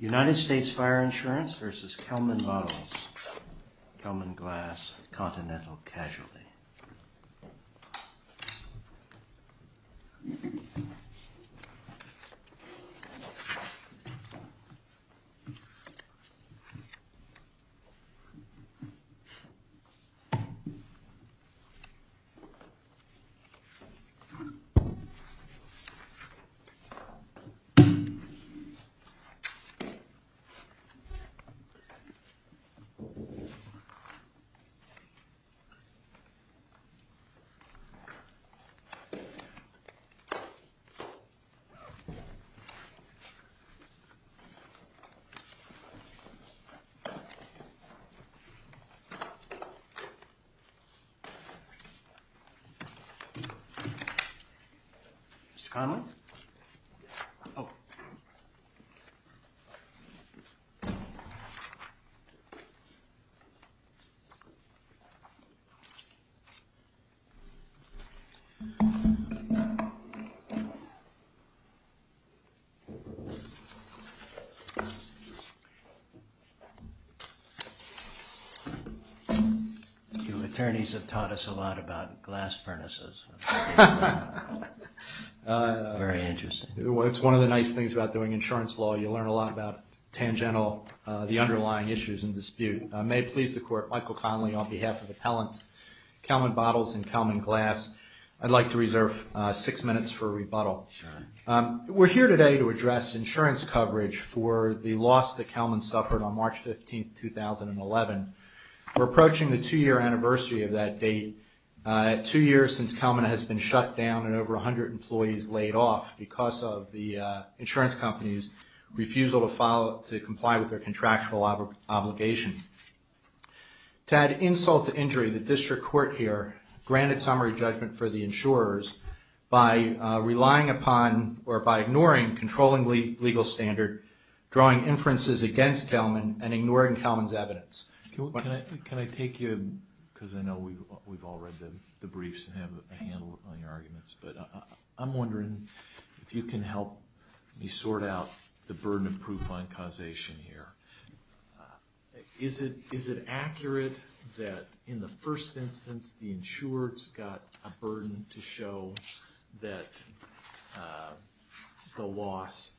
United States Fire Insurance v. Kelman Bottles, Kelman Glass, Continental Casualty Oh. Your attorneys have taught us a lot about glass furnaces. Very interesting. It's one of the nice things about doing insurance law. You learn a lot about tangential, the underlying issues in dispute. May it please the court, Michael Connolly on behalf of Appellants, Kelman Bottles and Kelman Glass, I'd like to reserve six minutes for a rebuttal. Sure. We're here today to address insurance coverage for the loss that Kelman suffered on March 15, 2011. We're approaching the two-year anniversary of that date, two years since Kelman has been shut down and over 100 employees laid off because of the insurance company's refusal to comply with their contractual obligation. To add insult to injury, the district court here granted summary judgment for the insurers by relying upon or by ignoring controlling legal standard, drawing inferences against Kelman and ignoring Kelman's evidence. Can I take you, because I know we've all read the briefs and have a handle on your arguments, but I'm wondering if you can help me sort out the burden of proof on causation here. Is it accurate that in the first instance the insurer's got a burden to show that the loss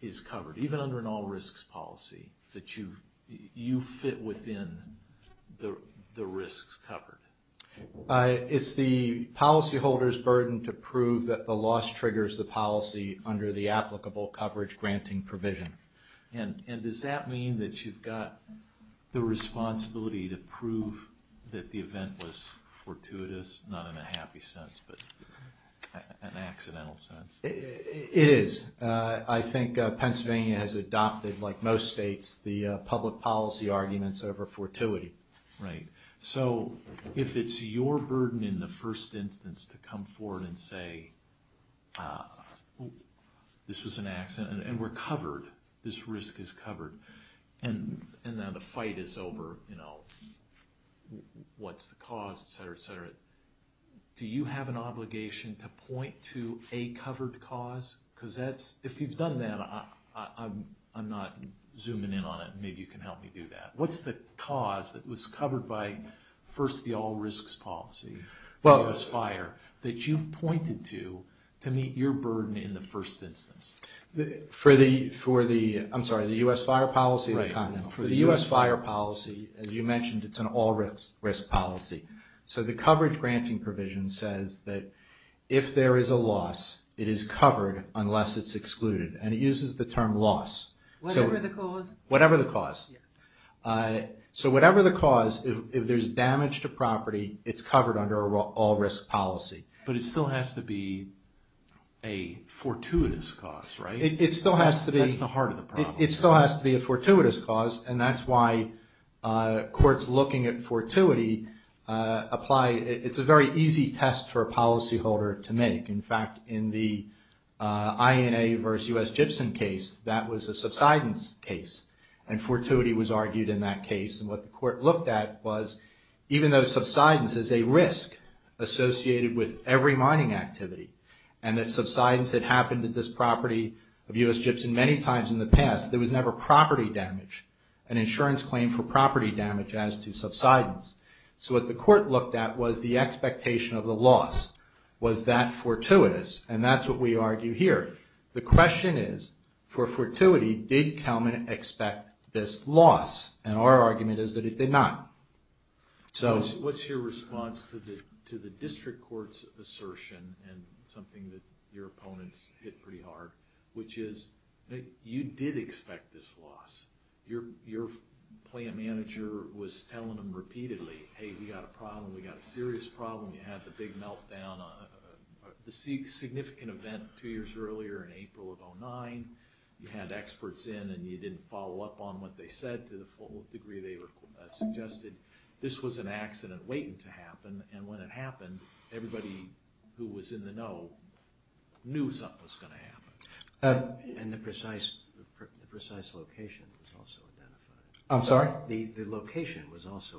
is covered, even under an all-risks policy, that you fit within the risks covered? It's the policyholder's burden to prove that the loss triggers the policy under the applicable coverage granting provision. And does that mean that you've got the responsibility to prove that the event was fortuitous, not in a happy sense, but an accidental sense? It is. I think Pennsylvania has adopted, like most states, the public policy arguments over fortuity. So if it's your burden in the first instance to come forward and say, this was an accident and we're covered, this risk is covered, and now the fight is over, what's the cause, et cetera, et cetera, do you have an obligation to point to a covered cause? Because if you've done that, I'm not zooming in on it, maybe you can help me do that. What's the cause that was covered by, first, the all-risks policy for the U.S. fire that you've pointed to to meet your burden in the first instance? For the U.S. fire policy, as you mentioned, it's an all-risk policy. So the coverage granting provision says that if there is a loss, it is covered unless it's excluded. And it uses the term loss. Whatever the cause? So whatever the cause, if there's damage to property, it's covered under an all-risk policy. But it still has to be a fortuitous cause, right? It still has to be. That's the heart of the problem. It still has to be a fortuitous cause, and that's why courts looking at fortuity apply. It's a very easy test for a policyholder to make. In fact, in the INA versus U.S. Gibson case, that was a subsidence case, and fortuity was argued in that case. And what the court looked at was even though subsidence is a risk associated with every mining activity and that subsidence had happened to this property of U.S. Gibson many times in the past, there was never property damage, an insurance claim for property damage as to subsidence. So what the court looked at was the expectation of the loss. Was that fortuitous? And that's what we argue here. The question is, for fortuity, did Kelman expect this loss? And our argument is that it did not. So... What's your response to the district court's assertion, and something that your opponents hit pretty hard, which is you did expect this loss. Your plant manager was telling them repeatedly, hey, we got a problem, we got a serious problem. You had the big meltdown, the significant event two years earlier in April of 2009. You had experts in and you didn't follow up on what they said to the full degree they suggested. This was an accident waiting to happen, and when it happened, everybody who was in the know knew something was going to happen. And the precise location was also identified. I'm sorry? The location was also identified.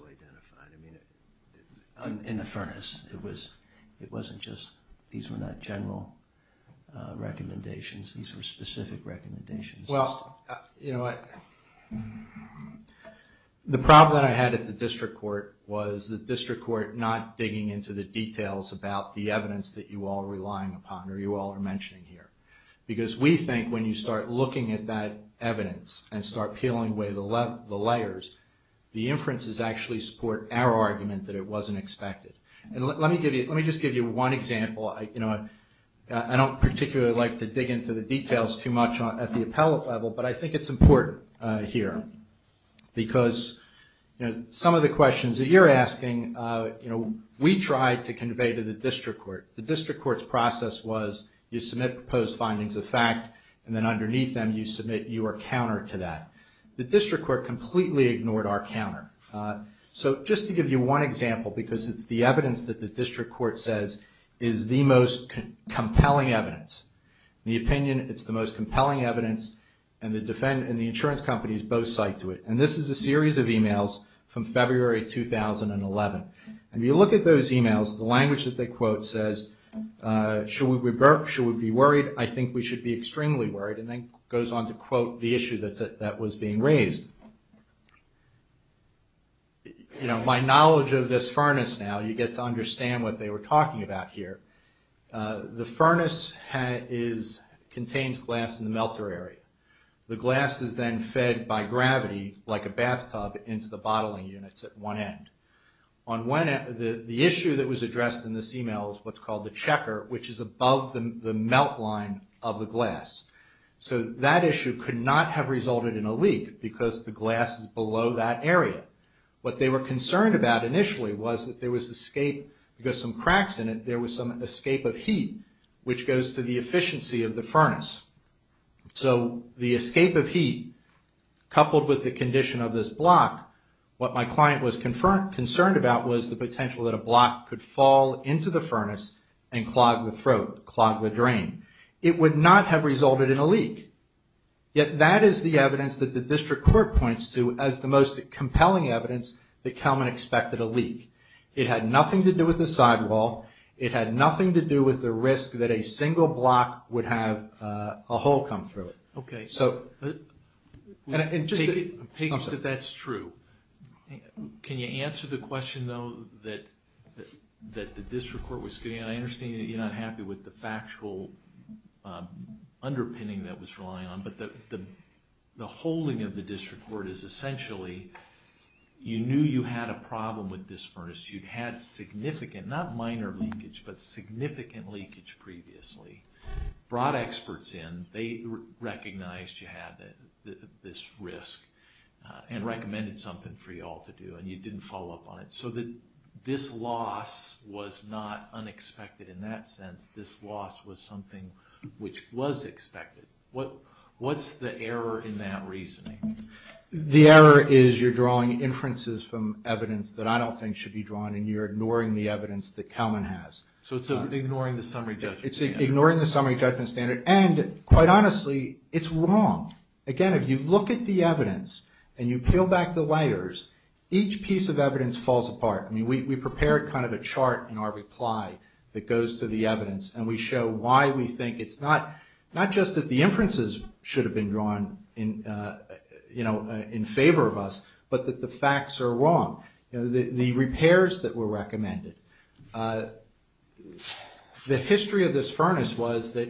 I mean, in the furnace, it wasn't just these were not general recommendations. These were specific recommendations. Well, you know what? The problem that I had at the district court was the district court not digging into the details about the evidence that you all are relying upon or you all are mentioning here. Because we think when you start looking at that evidence and start peeling away the layers, the inferences actually support our argument that it wasn't expected. And let me just give you one example. I don't particularly like to dig into the details too much at the appellate level, but I think it's important here. Because some of the questions that you're asking, we tried to convey to the district court. The district court's process was you submit proposed findings of fact, and then underneath them you submit your counter to that. The district court completely ignored our counter. So just to give you one example, because it's the evidence that the district court says is the most compelling evidence. In the opinion, it's the most compelling evidence, and the insurance companies both cite to it. And this is a series of emails from February 2011. And you look at those emails, the language that they quote says, should we be worried? I think we should be extremely worried. And then goes on to quote the issue that was being raised. My knowledge of this furnace now, you get to understand what they were talking about here. The furnace contains glass in the melter area. The glass is then fed by gravity like a bathtub into the bottling units at one end. The issue that was addressed in this email is what's called the checker, which is above the melt line of the glass. So that issue could not have resulted in a leak, because the glass is below that area. What they were concerned about initially was that there was escape, because some cracks in it, there was some escape of heat, which goes to the efficiency of the furnace. So the escape of heat, coupled with the condition of this block, what my client was concerned about was the potential that a block could fall into the furnace and clog the throat, clog the drain. It would not have resulted in a leak. Yet that is the evidence that the district court points to as the most compelling evidence that Kelman expected a leak. It had nothing to do with the sidewall. It had nothing to do with the risk that a single block would have a hole come through it. Okay. Take it that that's true. Can you answer the question, though, that the district court was getting? I understand that you're not happy with the factual underpinning that was relying on, but the holding of the district court is essentially, you knew you had a problem with this furnace. You'd had significant, not minor leakage, but significant leakage previously, brought experts in. They recognized you had this risk and recommended something for you all to do, and you didn't follow up on it. So this loss was not unexpected in that sense. This loss was something which was expected. What's the error in that reasoning? The error is you're drawing inferences from evidence that I don't think should be drawn, and you're ignoring the evidence that Kelman has. So it's ignoring the summary judgment standard. It's ignoring the summary judgment standard, and, quite honestly, it's wrong. Again, if you look at the evidence and you peel back the layers, each piece of evidence falls apart. I mean, we prepared kind of a chart in our reply that goes to the evidence, and we show why we think it's not just that the inferences should have been drawn in favor of us, but that the facts are wrong, the repairs that were recommended. The history of this furnace was that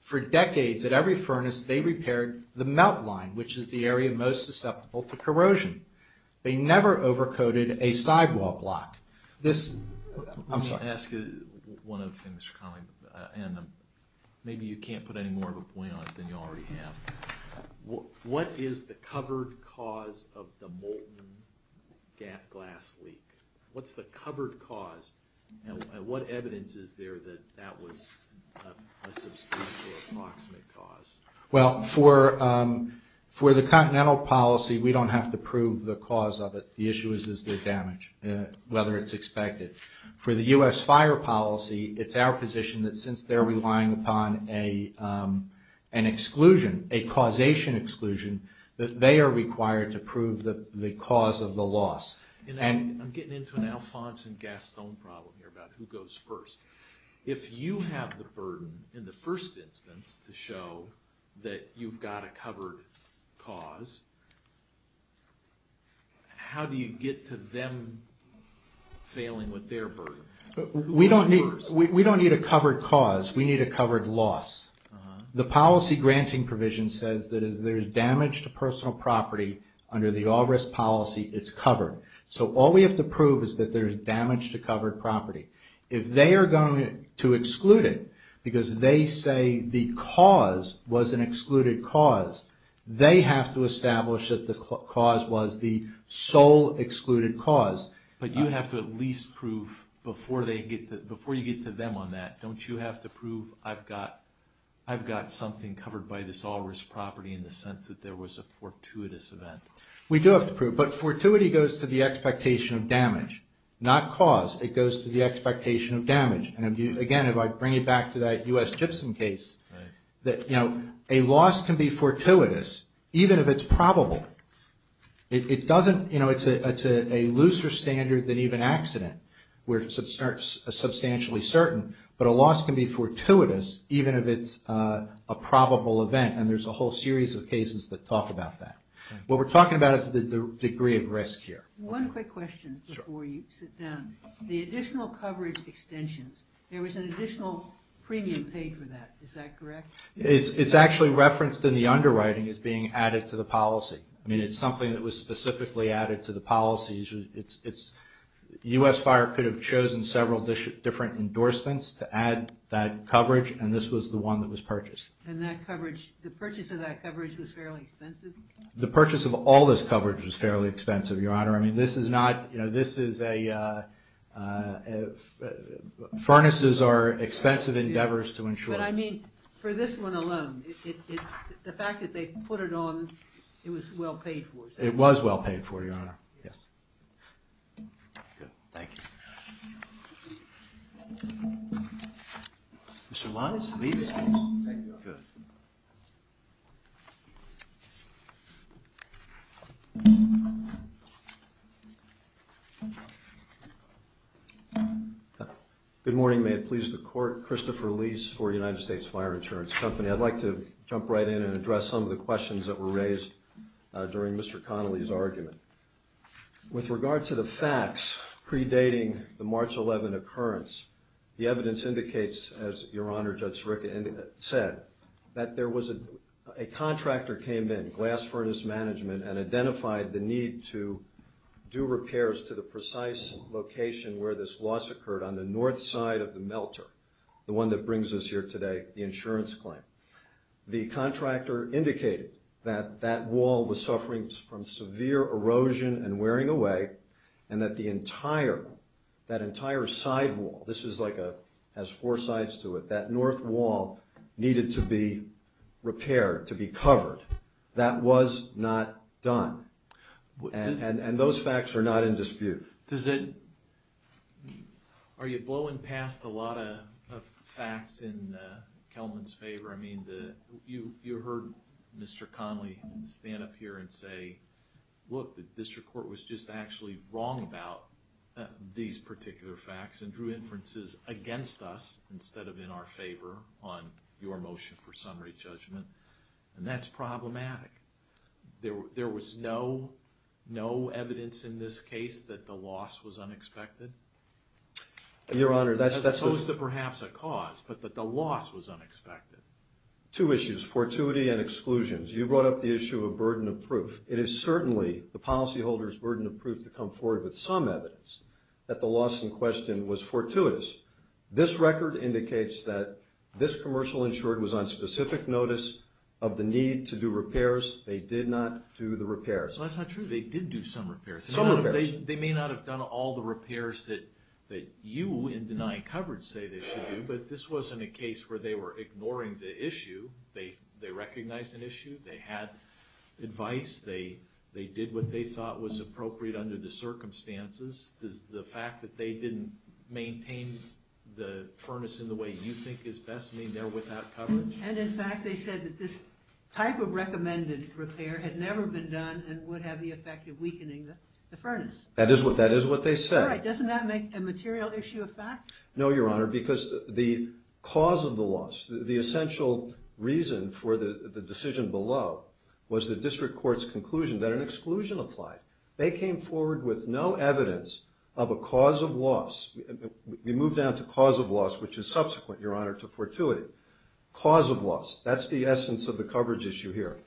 for decades at every furnace they repaired the melt line, which is the area most susceptible to corrosion. They never overcoated a sidewall block. I'm sorry. Let me ask you one other thing, Mr. Connolly, and maybe you can't put any more of a point on it than you already have. What is the covered cause of the molten glass leak? What's the covered cause, and what evidence is there that that was a substantial approximate cause? Well, for the continental policy, we don't have to prove the cause of it. The issue is the damage, whether it's expected. For the U.S. fire policy, it's our position that since they're relying upon an exclusion, a causation exclusion, that they are required to prove the cause of the loss. I'm getting into an Alphonse and Gaston problem here about who goes first. If you have the burden in the first instance to show that you've got a covered cause, how do you get to them failing with their burden? We don't need a covered cause. We need a covered loss. The policy granting provision says that if there's damage to personal property under the all-risk policy, it's covered. So all we have to prove is that there's damage to covered property. If they are going to exclude it because they say the cause was an excluded cause, they have to establish that the cause was the sole excluded cause. But you have to at least prove, before you get to them on that, don't you have to prove I've got something covered by this all-risk property in the sense that there was a fortuitous event? We do have to prove, but fortuity goes to the expectation of damage, not cause. It goes to the expectation of damage. Again, if I bring you back to that U.S. Gibson case, a loss can be fortuitous even if it's probable. It's a looser standard than even accident where it's substantially certain, but a loss can be fortuitous even if it's a probable event, and there's a whole series of cases that talk about that. What we're talking about is the degree of risk here. One quick question before you sit down. The additional coverage extensions, there was an additional premium paid for that. Is that correct? It's actually referenced in the underwriting as being added to the policy. It's something that was specifically added to the policy. U.S. Fire could have chosen several different endorsements to add that coverage, and this was the one that was purchased. The purchase of that coverage was fairly expensive? The purchase of all this coverage was fairly expensive, Your Honor. I mean, this is not – you know, this is a – furnaces are expensive endeavors to ensure. But, I mean, for this one alone, the fact that they put it on, it was well paid for. It was well paid for, Your Honor. Yes. Good. Thank you. Mr. Lies, please. Thank you, Your Honor. Good. Good morning. May it please the Court. Christopher Lies for United States Fire Insurance Company. I'd like to jump right in and address some of the questions that were raised during Mr. Connolly's argument. With regard to the facts pre-dating the March 11 occurrence, the evidence indicates, as Your Honor, Judge Sirica said, that there was a – a contractor came in, Glass Furnace Management, and identified the need to do repairs to the precise location where this loss occurred on the north side of the melter, the one that brings us here today, the insurance claim. The contractor indicated that that wall was suffering from severe erosion and wearing away, and that the entire – that entire sidewall – this is like a – has four sides to it. That north wall needed to be repaired, to be covered. That was not done. And those facts are not in dispute. Does it – are you blowing past a lot of facts in Kelman's favor? I mean, you heard Mr. Connolly stand up here and say, look, the district court was just actually wrong about these particular facts and drew inferences against us instead of in our favor on your motion for summary judgment. And that's problematic. There was no – no evidence in this case that the loss was unexpected? Your Honor, that's – As opposed to perhaps a cause, but that the loss was unexpected. Two issues, fortuity and exclusions. You brought up the issue of burden of proof. It is certainly the policyholder's burden of proof to come forward with some evidence that the loss in question was fortuitous. This record indicates that this commercial insured was on specific notice of the need to do repairs. They did not do the repairs. Well, that's not true. They did do some repairs. Some repairs. They may not have done all the repairs that you, in denying coverage, say they should do, but this wasn't a case where they were ignoring the issue. They recognized an issue. They had advice. They did what they thought was appropriate under the circumstances. Does the fact that they didn't maintain the furnace in the way you think is best mean they're without coverage? And, in fact, they said that this type of recommended repair had never been done and would have the effect of weakening the furnace. That is what they said. Doesn't that make a material issue a fact? No, Your Honor, because the cause of the loss, the essential reason for the decision below was the district court's conclusion that an exclusion applied. They came forward with no evidence of a cause of loss. We move down to cause of loss, which is subsequent, Your Honor, to fortuity. Cause of loss. That's the essence of the coverage issue here.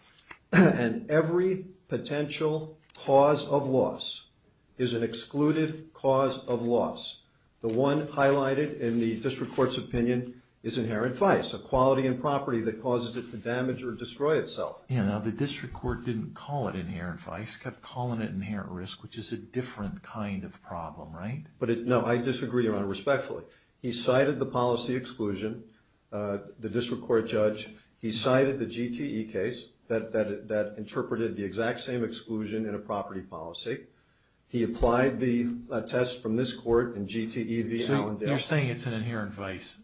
And every potential cause of loss is an excluded cause of loss. The one highlighted in the district court's opinion is inherent vice, a quality and property that causes it to damage or destroy itself. Yeah, now the district court didn't call it inherent vice. It kept calling it inherent risk, which is a different kind of problem, right? No, I disagree, Your Honor, respectfully. He cited the policy exclusion, the district court judge. He cited the GTE case that interpreted the exact same exclusion in a property policy. He applied the test from this court in GTE v. Allendale. So you're saying it's an inherent vice?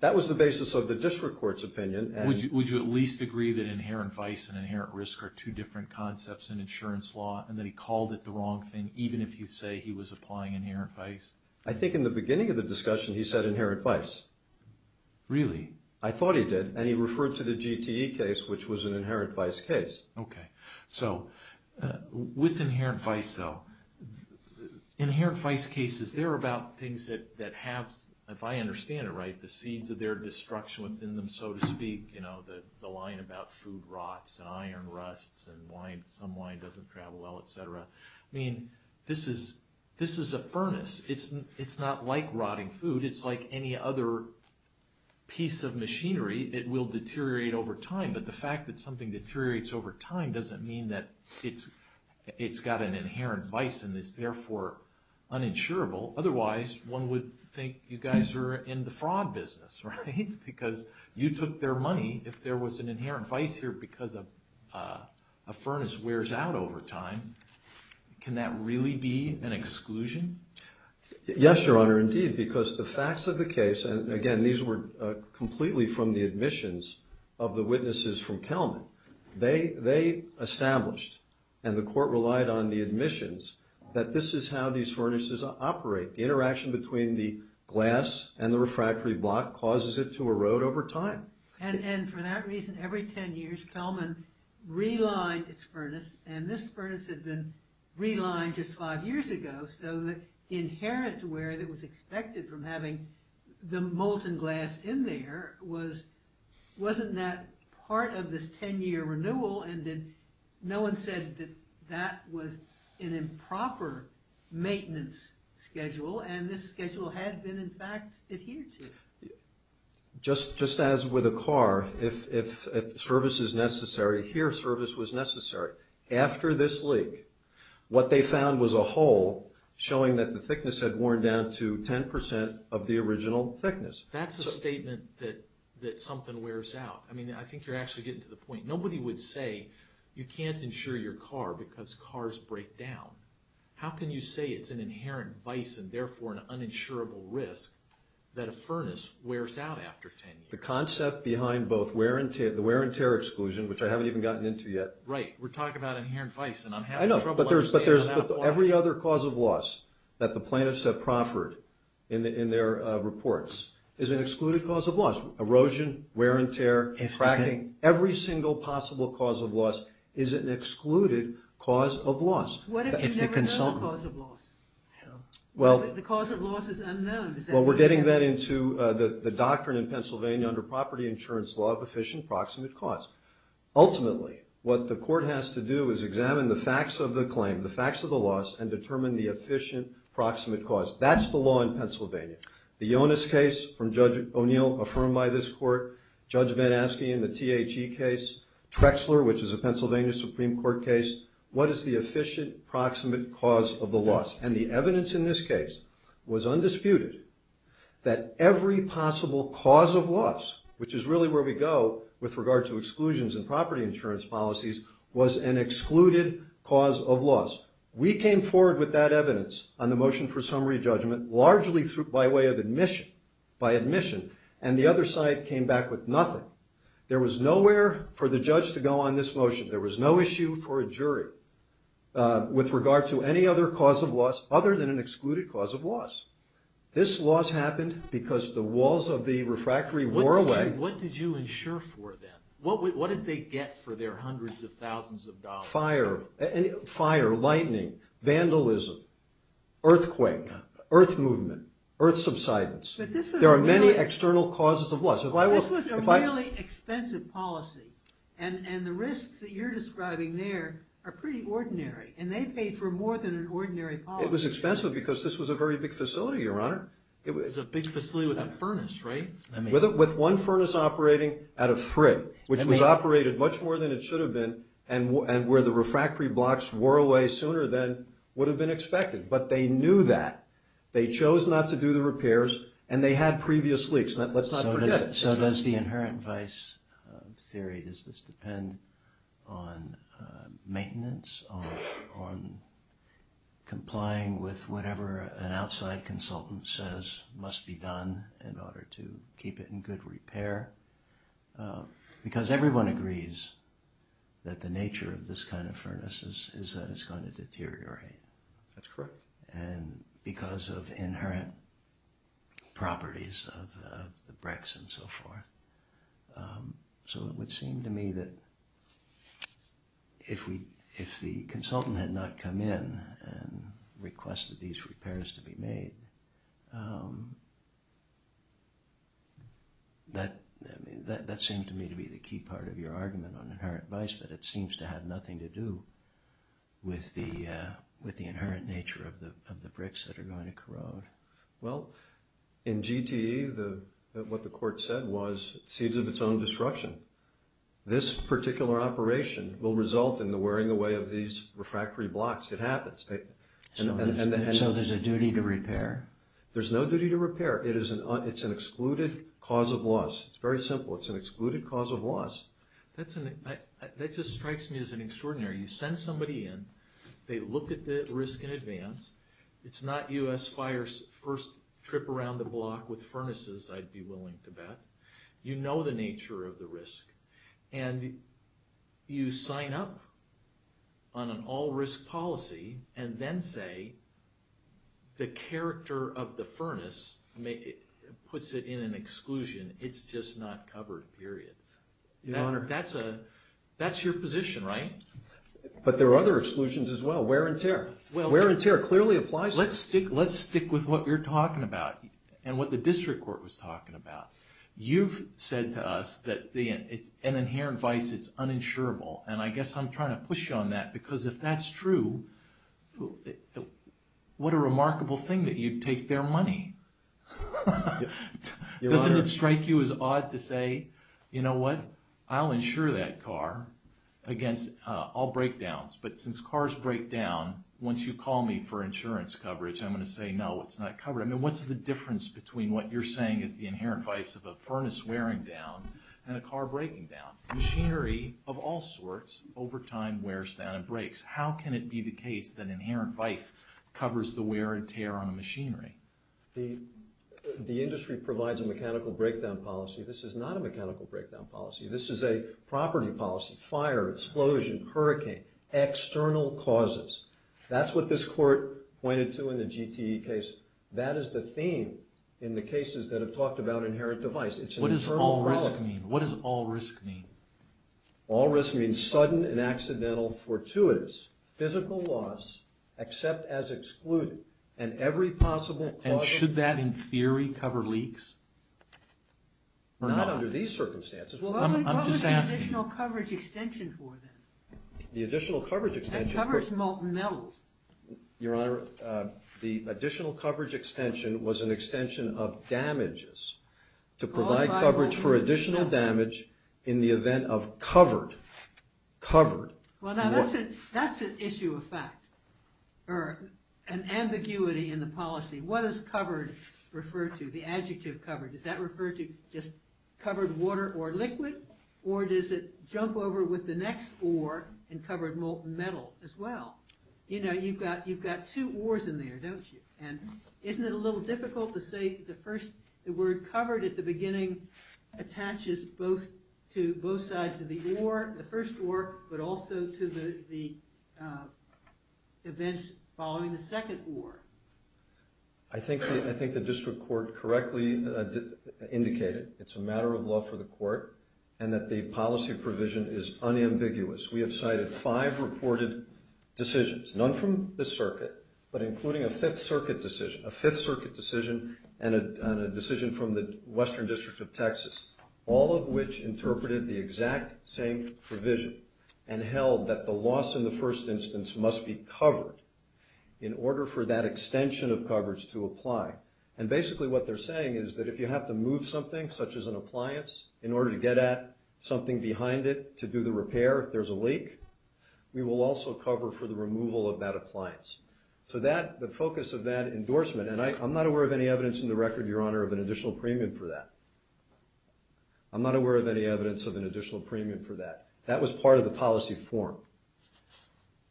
That was the basis of the district court's opinion. Would you at least agree that inherent vice and inherent risk are two different concepts in insurance law and that he called it the wrong thing, even if you say he was applying inherent vice? I think in the beginning of the discussion he said inherent vice. Really? I thought he did. And he referred to the GTE case, which was an inherent vice case. Okay. So with inherent vice, though, inherent vice cases, they're about things that have, if I understand it right, the seeds of their destruction within them, so to speak. You know, the line about food rots and iron rusts and some wine doesn't travel well, etc. I mean, this is a furnace. It's not like rotting food. It's like any other piece of machinery. It will deteriorate over time. But the fact that something deteriorates over time doesn't mean that it's got an inherent vice and is therefore uninsurable. Otherwise, one would think you guys are in the fraud business, right? Because you took their money. If there was an inherent vice here because a furnace wears out over time, can that really be an exclusion? Yes, Your Honor, indeed, because the facts of the case, and again, these were completely from the admissions of the witnesses from Kelman. They established, and the court relied on the admissions, that this is how these furnaces operate. The interaction between the glass and the refractory block causes it to erode over time. And for that reason, every 10 years, Kelman relined its furnace, and this furnace had been relined just five years ago, so the inherent wear that was expected from having the molten glass in there wasn't that part of this 10-year renewal, and no one said that that was an improper maintenance schedule, and this schedule had been, in fact, adhered to. Just as with a car, if service is necessary, here service was necessary. After this leak, what they found was a hole showing that the thickness had worn down to 10% of the original thickness. That's a statement that something wears out. I mean, I think you're actually getting to the point. Nobody would say you can't insure your car because cars break down. How can you say it's an inherent vice and therefore an uninsurable risk that a furnace wears out after 10 years? The concept behind both the wear and tear exclusion, which I haven't even gotten into yet. Right. We're talking about inherent vice, and I'm having trouble understanding that. I know, but every other cause of loss that the plaintiffs have proffered in their reports is an excluded cause of loss. Erosion, wear and tear, cracking, every single possible cause of loss is an excluded cause of loss. What if you never know the cause of loss? The cause of loss is unknown. Well, we're getting that into the doctrine in Pennsylvania under property insurance law of efficient proximate cause. Ultimately, what the court has to do is examine the facts of the claim, the facts of the loss, and determine the efficient proximate cause. That's the law in Pennsylvania. The Yonis case from Judge O'Neill, affirmed by this court, Judge Van Aske in the THE case, Trexler, which is a Pennsylvania Supreme Court case, what is the efficient proximate cause of the loss? And the evidence in this case was undisputed that every possible cause of loss, which is really where we go with regard to exclusions in property insurance policies, was an excluded cause of loss. We came forward with that evidence on the motion for summary judgment largely by way of admission, by admission, and the other side came back with nothing. There was nowhere for the judge to go on this motion. There was no issue for a jury with regard to any other cause of loss other than an excluded cause of loss. This loss happened because the walls of the refractory wore away. What did you insure for them? What did they get for their hundreds of thousands of dollars? Fire, lightning, vandalism, earthquake, earth movement, earth subsidence. There are many external causes of loss. This was a really expensive policy, and the risks that you're describing there are pretty ordinary, and they paid for more than an ordinary policy. It was expensive because this was a very big facility, Your Honor. It was a big facility with a furnace, right? With one furnace operating at a frig, which was operated much more than it should have been, and where the refractory blocks wore away sooner than would have been expected. But they knew that. They chose not to do the repairs, and they had previous leaks. So does the inherent vice of theory, does this depend on maintenance, on complying with whatever an outside consultant says must be done in order to keep it in good repair? Because everyone agrees that the nature of this kind of furnace is that it's going to deteriorate. That's correct. Because of inherent properties of the bricks and so forth. So it would seem to me that if the consultant had not come in and requested these repairs to be made, that seemed to me to be the key part of your argument on inherent vice, that it seems to have nothing to do with the inherent nature of the bricks that are going to corrode. Well, in GTE, what the court said was seeds of its own destruction. This particular operation will result in the wearing away of these refractory blocks. It happens. So there's a duty to repair? There's no duty to repair. It's an excluded cause of loss. It's very simple. It's an excluded cause of loss. That just strikes me as an extraordinary. You send somebody in. They look at the risk in advance. It's not U.S. Fire's first trip around the block with furnaces, I'd be willing to bet. You know the nature of the risk. And you sign up on an all-risk policy and then say the character of the furnace puts it in an exclusion. It's just not covered, period. That's your position, right? But there are other exclusions as well. Wear and tear. Wear and tear clearly applies here. Let's stick with what you're talking about and what the district court was talking about. You've said to us that an inherent vice is uninsurable, and I guess I'm trying to push you on that because if that's true, what a remarkable thing that you'd take their money. Doesn't it strike you as odd to say, you know what, I'll insure that car against all breakdowns, but since cars break down, once you call me for insurance coverage, I'm going to say no, it's not covered. What's the difference between what you're saying is the inherent vice of a furnace wearing down and a car breaking down? Machinery of all sorts, over time, wears down and breaks. How can it be the case that inherent vice covers the wear and tear on a machinery? The industry provides a mechanical breakdown policy. This is not a mechanical breakdown policy. This is a property policy. Fire, explosion, hurricane, external causes. That's what this court pointed to in the GTE case. That is the theme in the cases that have talked about inherent device. What does all risk mean? All risk means sudden and accidental fortuitous. Physical loss, except as excluded, and every possible cause of... And should that, in theory, cover leaks? Not under these circumstances. What was the additional coverage extension for then? The additional coverage extension... That covers molten metals. Your Honor, the additional coverage extension was an extension of damages to provide coverage for additional damage in the event of covered, covered... Well, now, that's an issue of fact, or an ambiguity in the policy. What does covered refer to, the adjective covered? Does that refer to just covered water or liquid? Or does it jump over with the next or and covered molten metal as well? You know, you've got two ors in there, don't you? And isn't it a little difficult to say the first, the word covered at the beginning attaches both to both sides of the or, the first or, but also to the events following the second or. I think the district court correctly indicated it's a matter of law for the court and that the policy provision is unambiguous. We have cited five reported decisions, none from the circuit, but including a Fifth Circuit decision, a Fifth Circuit decision and a decision from the Western District of Texas, all of which interpreted the exact same provision and held that the loss in the first instance must be covered in order for that extension of coverage to apply. And basically what they're saying is that if you have to move something, such as an appliance, in order to get at something behind it to do the repair if there's a leak, we will also cover for the removal of that appliance. So that, the focus of that endorsement, and I'm not aware of any evidence in the record, Your Honor, of an additional premium for that. I'm not aware of any evidence of an additional premium for that. That was part of the policy form.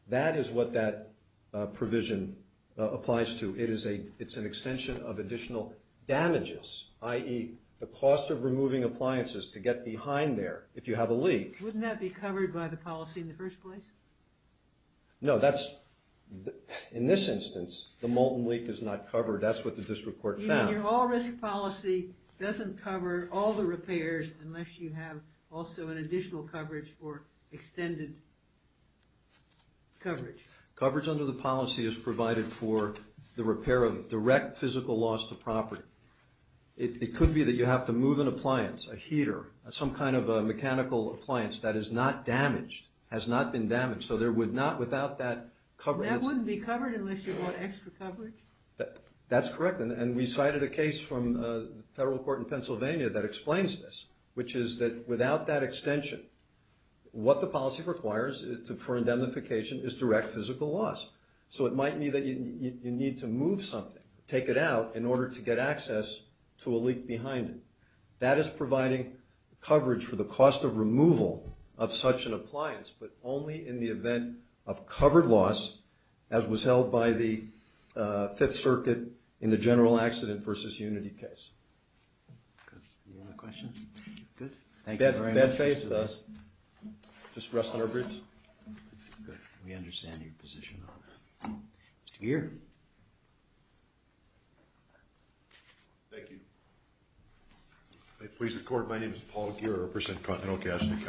That is what that provision applies to. It's an extension of additional damages, i.e., the cost of removing appliances to get behind there if you have a leak. Wouldn't that be covered by the policy in the first place? No, that's, in this instance, the molten leak is not covered. That's what the district court found. And your all-risk policy doesn't cover all the repairs unless you have also an additional coverage or extended coverage. Coverage under the policy is provided for the repair of direct physical loss to property. It could be that you have to move an appliance, a heater, some kind of a mechanical appliance that is not damaged, has not been damaged, so there would not, without that coverage... That wouldn't be covered unless you brought extra coverage? That's correct. And we cited a case from the federal court in Pennsylvania that explains this, which is that without that extension, what the policy requires for indemnification is direct physical loss. So it might be that you need to move something, take it out, in order to get access to a leak behind it. That is providing coverage for the cost of removal of such an appliance, but only in the event of covered loss, as was held by the Fifth Circuit in the General Accident v. Unity case. Any other questions? Good. Thank you very much. Bad faith with us. Just rest on our boots. We understand your position on that. Mr. Gere. Thank you. Please, the court. My name is Paul Gere, I represent Continental Cash in the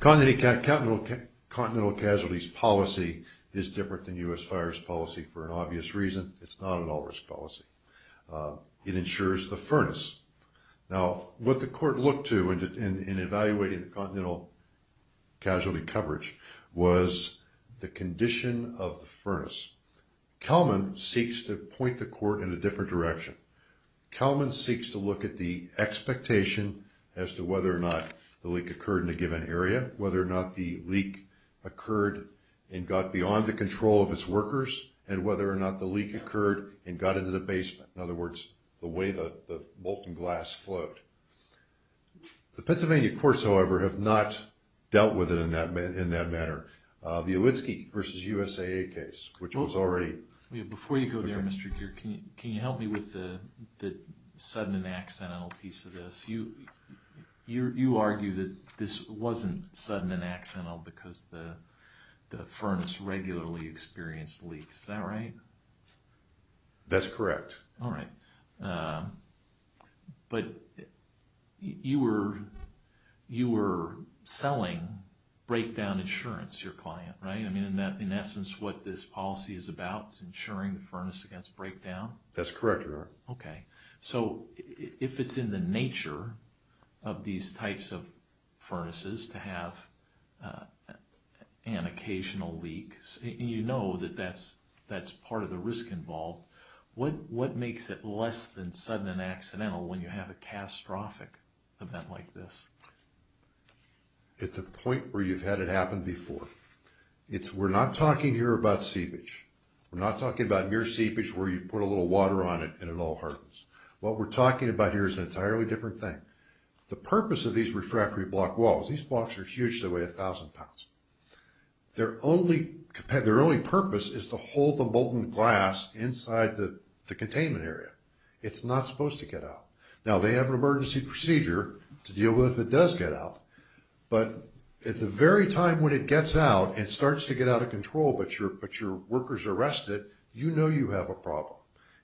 county. Continental Casualty's policy is different than U.S. Fire's policy for an obvious reason. It's not an all-risk policy. It ensures the furnace. Now, what the court looked to in evaluating the Continental Casualty coverage was the condition of the furnace. Kelman seeks to point the court in a different direction. Kelman seeks to look at the expectation as to whether or not the leak occurred in a given area, whether or not the leak occurred and got beyond the control of its workers, and whether or not the leak occurred and got into the basement. In other words, the way the molten glass flowed. The Pennsylvania courts, however, have not dealt with it in that manner. The Olitski v. USAA case, which was already... Before you go there, Mr. Gere, can you help me with the sudden and accidental piece of this? You argue that this wasn't sudden and accidental because the furnace regularly experienced leaks. Is that right? That's correct. All right. But you were selling breakdown insurance to your client, right? I mean, in essence, what this policy is about is insuring the furnace against breakdown? That's correct, Your Honor. Okay. So if it's in the nature of these types of furnaces to have an occasional leak, and you know that that's part of the risk involved, what makes it less than sudden and accidental when you have a catastrophic event like this? At the point where you've had it happen before. We're not talking here about seepage. We're not talking about mere seepage where you put a little water on it and it all hardens. What we're talking about here is an entirely different thing. The purpose of these refractory block walls, these blocks are huge, they weigh 1,000 pounds. Their only purpose is to hold the molten glass inside the containment area. It's not supposed to get out. Now, they have an emergency procedure to deal with if it does get out. But at the very time when it gets out and starts to get out of control, but your workers arrest it, you know you have a problem.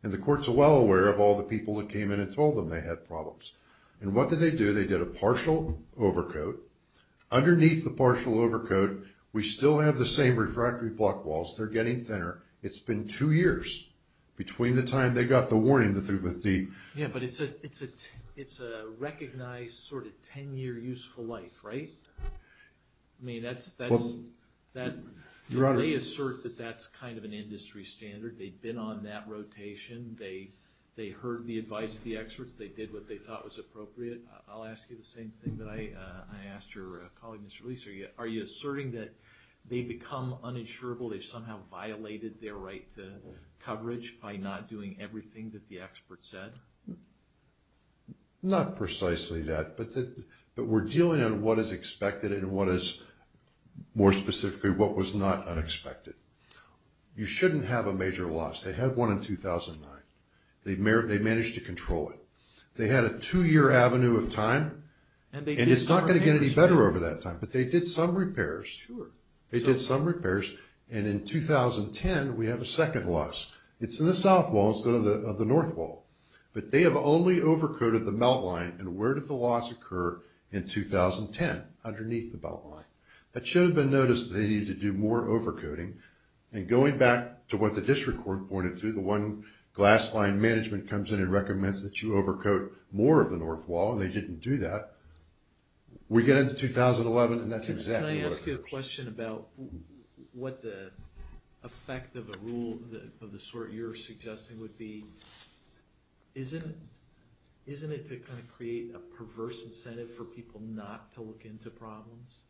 And the court's well aware of all the people that came in and told them they had problems. And what did they do? They did a partial overcoat. Underneath the partial overcoat, we still have the same refractory block walls. They're getting thinner. It's been two years between the time they got the warning through the thief. Yeah, but it's a recognized sort of 10-year useful life, right? I mean, that's... Do they assert that that's kind of an industry standard? They've been on that rotation. They heard the advice of the experts. They did what they thought was appropriate. I'll ask you the same thing that I asked your colleague, Mr. Leeser. Are you asserting that they've become uninsurable? They've somehow violated their right to coverage by not doing everything that the expert said? Not precisely that. But we're dealing on what is expected and what is more specifically what was not unexpected. You shouldn't have a major loss. They had one in 2009. They managed to control it. They had a two-year avenue of time, and it's not going to get any better over that time. But they did some repairs. Sure. They did some repairs. And in 2010, we have a second loss. It's in the south wall instead of the north wall. But they have only overcoated the melt line. And where did the loss occur in 2010? Underneath the melt line. It should have been noticed that they needed to do more overcoating. And going back to what the district court pointed to, the one glass line management comes in and recommends that you overcoat more of the north wall, and they didn't do that. We get into 2011, and that's exactly what occurs. Can I ask you a question about what the effect of a rule of the sort you're suggesting would be? Isn't it to kind of create a perverse incentive for people not to look into problems?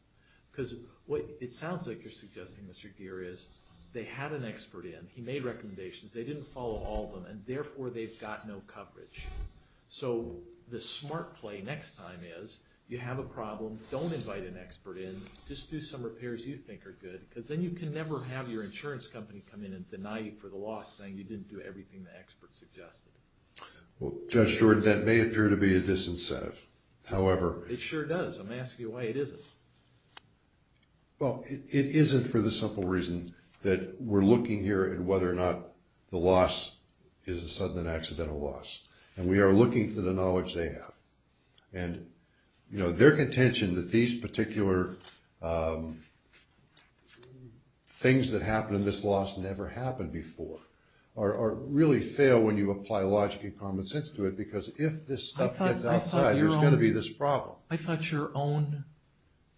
Because what it sounds like you're suggesting, Mr. Gere, is they had an expert in. He made recommendations. They didn't follow all of them, and therefore they've got no coverage. So the smart play next time is you have a problem, don't invite an expert in, just do some repairs you think are good, because then you can never have your insurance company come in and deny you for the loss, saying you didn't do everything the expert suggested. Well, Judge Jordan, that may appear to be a disincentive. It sure does. I'm asking you why it isn't. Well, it isn't for the simple reason that we're looking here at whether or not the loss is a sudden and accidental loss. And we are looking for the knowledge they have. And their contention that these particular things that happen in this loss never happened before really fail when you apply logic and common sense to it, because if this stuff gets outside, there's going to be this problem. I thought your own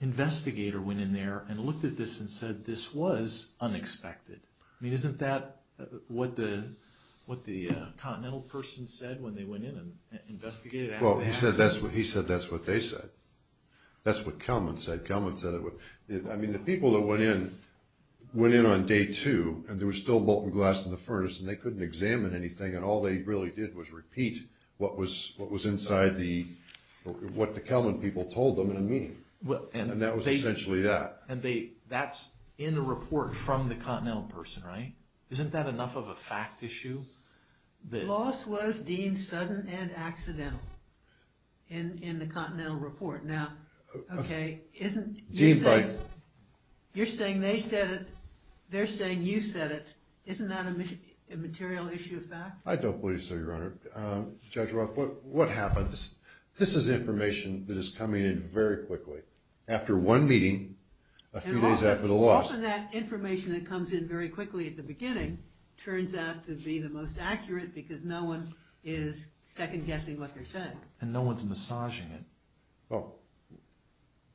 investigator went in there and looked at this and said this was unexpected. I mean, isn't that what the Continental person said when they went in and investigated it? Well, he said that's what they said. That's what Kelman said. Kelman said it was... I mean, the people that went in, went in on day two, and there was still molten glass in the furnace, and they couldn't examine anything, and all they really did was repeat what was inside the... what the Kelman people told them in a meeting. And that was essentially that. And that's in a report from the Continental person, right? Isn't that enough of a fact issue? The loss was deemed sudden and accidental in the Continental report. Now, okay, isn't... Deemed by... You're saying they said it. They're saying you said it. Isn't that a material issue of fact? I don't believe so, Your Honor. Judge Roth, what happens... This is information that is coming in very quickly. After one meeting, a few days after the loss... Often that information that comes in very quickly at the beginning turns out to be the most accurate because no one is second-guessing what they're saying. And no one's massaging it. Well,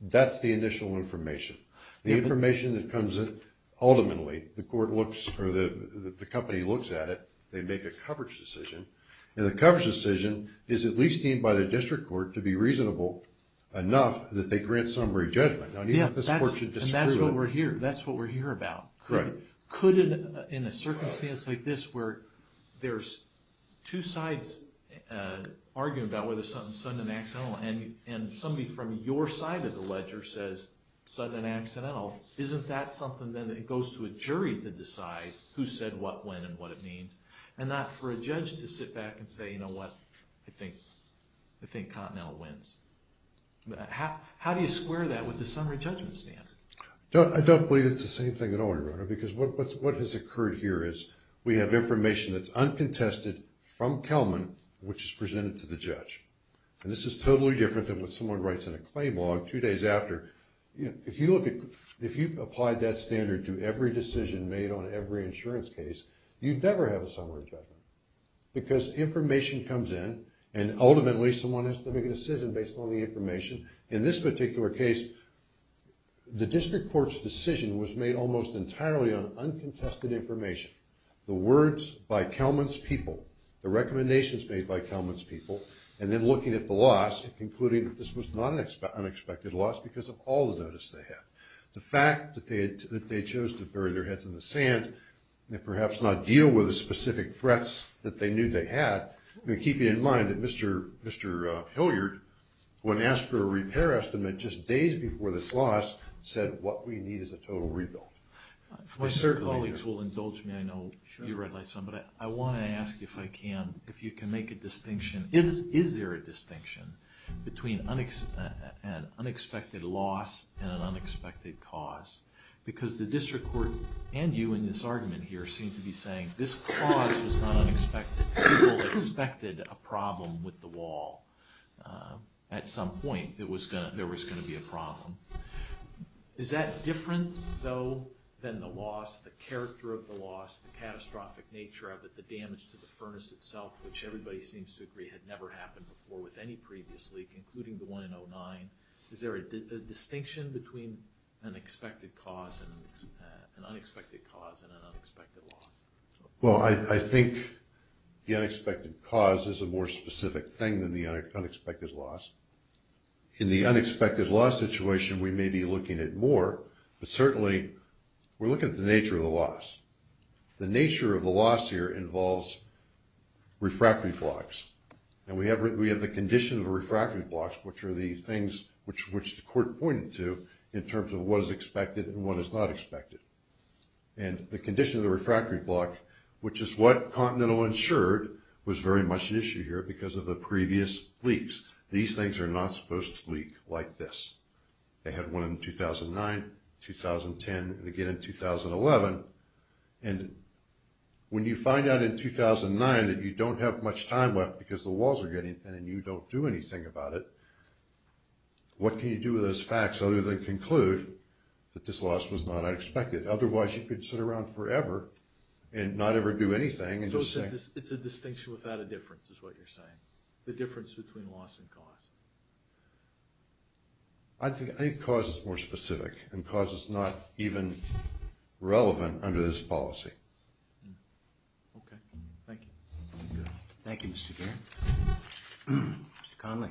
that's the initial information. The information that comes in ultimately, the court looks or the company looks at it. They make a coverage decision. And the coverage decision is at least deemed by the district court to be reasonable enough that they grant summary judgment. Now, even if this court should disprove it... And that's what we're here about. Could, in a circumstance like this, where there's two sides arguing about whether something's sudden and accidental, and somebody from your side of the ledger says sudden and accidental, isn't that something then that goes to a jury to decide who said what when and what it means? And not for a judge to sit back and say, you know what, I think Continental wins. How do you square that with the summary judgment standard? I don't believe it's the same thing at all, Your Honor, because what has occurred here is we have information that's uncontested from Kelman which is presented to the judge. And this is totally different than what someone writes in a claim log two days after. If you applied that standard to every decision made on every insurance case, you'd never have a summary judgment because information comes in and ultimately someone has to make a decision based on the information. In this particular case, the district court's decision was made almost entirely on uncontested information. The words by Kelman's people, the recommendations made by Kelman's people, and then looking at the loss, concluding that this was not an unexpected loss because of all the notice they had. The fact that they chose to bury their heads in the sand and perhaps not deal with the specific threats that they knew they had, keeping in mind that Mr. Hilliard, when asked for a repair estimate just days before this loss, said what we need is a total rebuild. My colleagues will indulge me, I know you read my son, but I want to ask if I can, if you can make a distinction, is there a distinction between an unexpected loss and an unexpected cause? Because the district court and you in this argument here seem to be saying this cause was not unexpected. People expected a problem with the wall. At some point there was going to be a problem. Is that different, though, than the loss, the character of the loss, the catastrophic nature of it, the damage to the furnace itself, which everybody seems to agree had never happened before with any previous leak, including the one in 09. Is there a distinction between an expected cause and an unexpected cause and an unexpected loss? Well, I think the unexpected cause is a more specific thing than the unexpected loss. In the unexpected loss situation, we may be looking at more, but certainly we're looking at the nature of the loss. The nature of the loss here involves refractory blocks, and we have the condition of refractory blocks, which are the things which the court pointed to in terms of what is expected and what is not expected. And the condition of the refractory block, which is what Continental ensured, was very much an issue here because of the previous leaks. These things are not supposed to leak like this. They had one in 2009, 2010, and again in 2011. And when you find out in 2009 that you don't have much time left because the walls are getting thin and you don't do anything about it, what can you do with those facts other than conclude that this loss was not unexpected? Otherwise you could sit around forever and not ever do anything. So it's a distinction without a difference, is what you're saying, the difference between loss and cause. I think cause is more specific, and cause is not even relevant under this policy. Okay, thank you. Thank you, Mr. Baird. Mr. Connolly.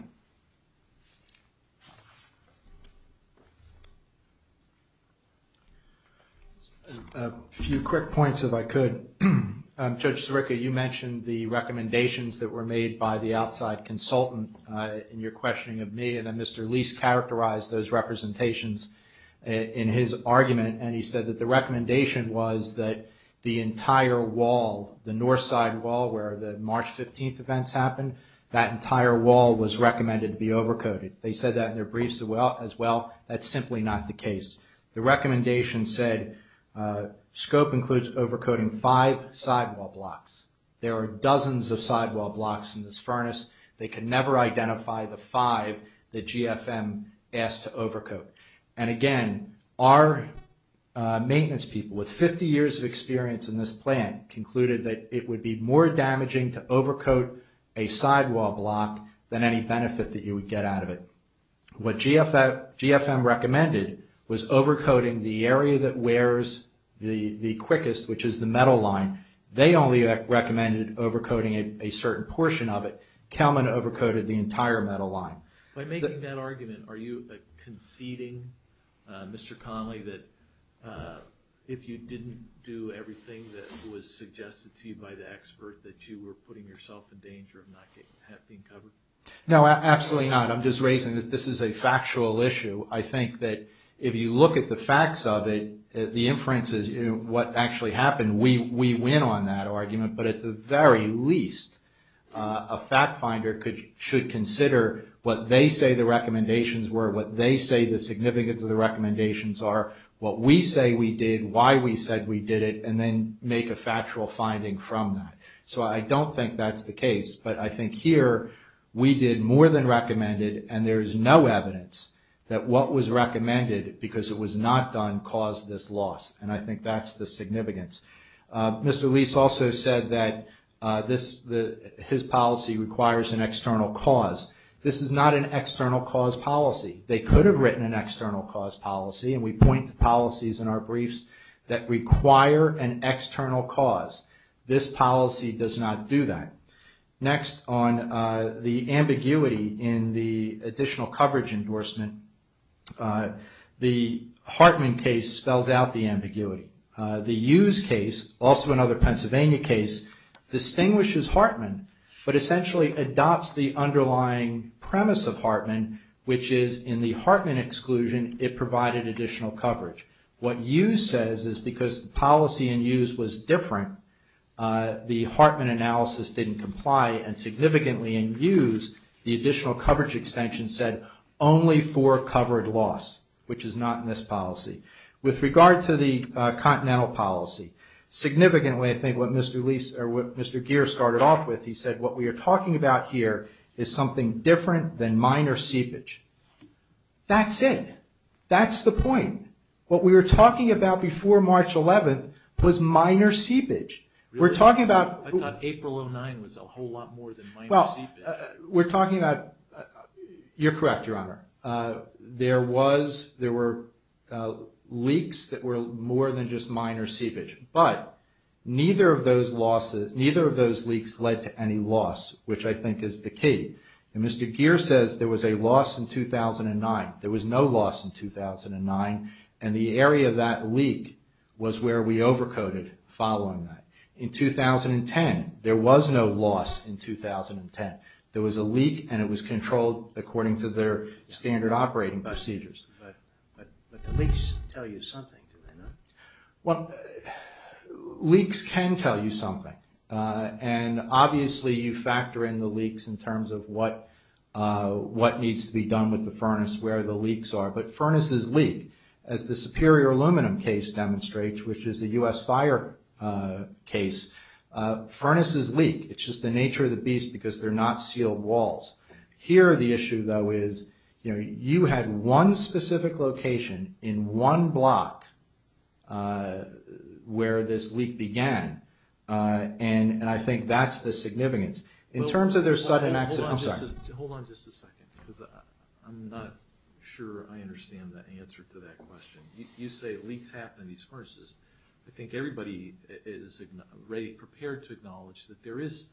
A few quick points if I could. Judge Sirica, you mentioned the recommendations that were made by the outside consultant in your questioning of me, and then Mr. Lease characterized those representations in his argument, and he said that the recommendation was that the entire wall, the north side wall where the March 15th events happened, that entire wall was recommended to be overcoated. They said that in their briefs as well. That's simply not the case. The recommendation said scope includes overcoating five sidewall blocks. There are dozens of sidewall blocks in this furnace. They can never identify the five that GFM asked to overcoat. And again, our maintenance people with 50 years of experience in this plant concluded that it would be more damaging to overcoat a sidewall block than any benefit that you would get out of it. What GFM recommended was overcoating the area that wears the quickest, which is the metal line. They only recommended overcoating a certain portion of it. Kelman overcoated the entire metal line. By making that argument, are you conceding, Mr. Connolly, that if you didn't do everything that was suggested to you by the expert, that you were putting yourself in danger of not being covered? No, absolutely not. I'm just raising that this is a factual issue. I think that if you look at the facts of it, the inferences, what actually happened, we win on that argument. But at the very least, a fact finder should consider what they say the recommendations were, what they say the significance of the recommendations are, what we say we did, why we said we did it, and then make a factual finding from that. So I don't think that's the case. But I think here, we did more than recommended, and there is no evidence that what was recommended, because it was not done, caused this loss. And I think that's the significance. Mr. Lease also said that his policy requires an external cause. This is not an external cause policy. They could have written an external cause policy, and we point to policies in our briefs that require an external cause. This policy does not do that. Next, on the ambiguity in the additional coverage endorsement, the Hartman case spells out the ambiguity. The Hughes case, also another Pennsylvania case, distinguishes Hartman, but essentially adopts the underlying premise of Hartman, which is in the Hartman exclusion, it provided additional coverage. What Hughes says is because the policy in Hughes was different, the Hartman analysis didn't comply, and significantly in Hughes, the additional coverage extension said only for covered loss, which is not in this policy. With regard to the continental policy, significantly I think what Mr. Lease, or what Mr. Geer started off with, he said what we are talking about here is something different than minor seepage. That's it. That's the point. What we were talking about before March 11th was minor seepage. We're talking about... I thought April 09 was a whole lot more than minor seepage. We're talking about... You're correct, Your Honor. There were leaks that were more than just minor seepage, but neither of those leaks led to any loss, which I think is the key. Mr. Geer says there was a loss in 2009. There was no loss in 2009, and the area of that leak was where we overcoded following that. In 2010, there was no loss in 2010. There was a leak, and it was controlled according to their standard operating procedures. But the leaks tell you something, do they not? Leaks can tell you something, and obviously you factor in the leaks in terms of what needs to be done with the furnace, where the leaks are, but furnaces leak. As the Superior Aluminum case demonstrates, which is a U.S. Fire case, furnaces leak. It's just the nature of the beast because they're not sealed walls. Here, the issue, though, is you had one specific location in one block where this leak began, and I think that's the significance. In terms of their sudden... I'm sorry. Hold on just a second, because I'm not sure I understand the answer to that question. You say leaks happen in these furnaces. I think everybody is prepared to acknowledge that there is,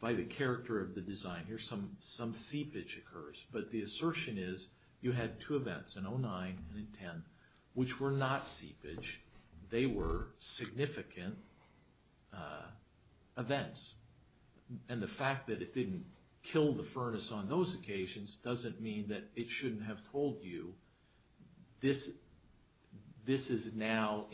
by the character of the design here, some seepage occurs, but the assertion is you had two events, in 2009 and in 2010, which were not seepage. They were significant events, and the fact that it didn't kill the furnace on those occasions doesn't mean that it shouldn't have told you this is now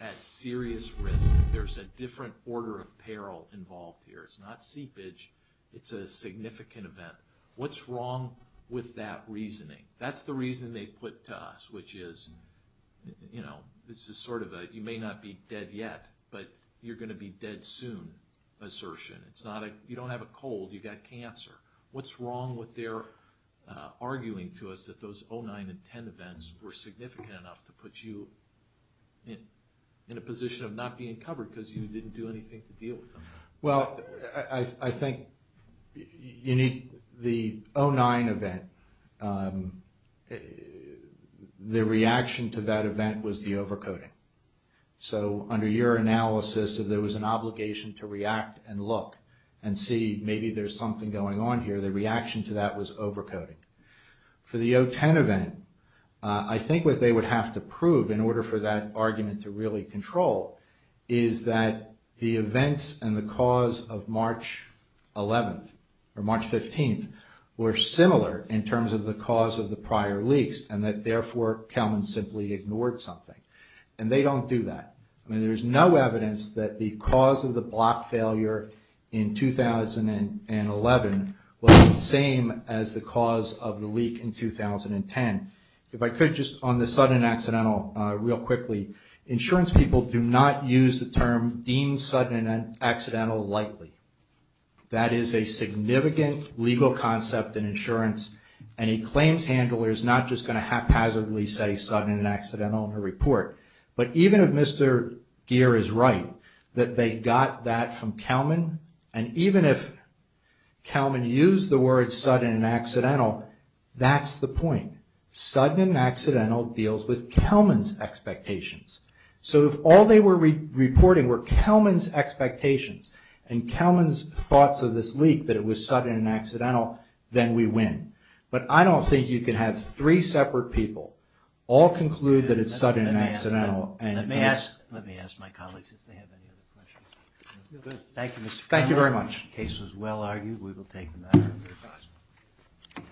at serious risk. There's a different order of peril involved here. It's not seepage. It's a significant event. What's wrong with that reasoning? That's the reasoning they put to us, which is you may not be dead yet, but you're going to be dead soon assertion. You don't have a cold. You've got cancer. What's wrong with their arguing to us that those 2009 and 2010 events were significant enough to put you in a position of not being covered because you didn't do anything to deal with them? I think the 2009 event, the reaction to that event was the overcoating. Under your analysis, there was an obligation to react and look and see maybe there's something going on here. The reaction to that was overcoating. For the 2010 event, I think what they would have to prove in order for that argument to really control is that the events and the cause of March 11th or March 15th were similar in terms of the cause of the prior leaks and that, therefore, Kelman simply ignored something. They don't do that. There's no evidence that the cause of the block failure in 2011 was the same as the cause of the leak in 2010. If I could just on the sudden accidental real quickly, insurance people do not use the term deemed sudden and accidental likely. That is a significant legal concept in insurance and a claims handler is not just going to haphazardly say sudden and accidental in a report. But even if Mr. Gere is right that they got that from Kelman and even if Kelman used the word sudden and accidental, that's the point. Sudden and accidental deals with Kelman's expectations. So if all they were reporting were Kelman's expectations and Kelman's thoughts of this leak that it was sudden and accidental, then we win. But I don't think you can have three separate people all conclude that it's sudden and accidental. Let me ask my colleagues if they have any other questions. Thank you, Mr. Feiglman. Thank you very much. The case was well argued. We will take the matter under the cross.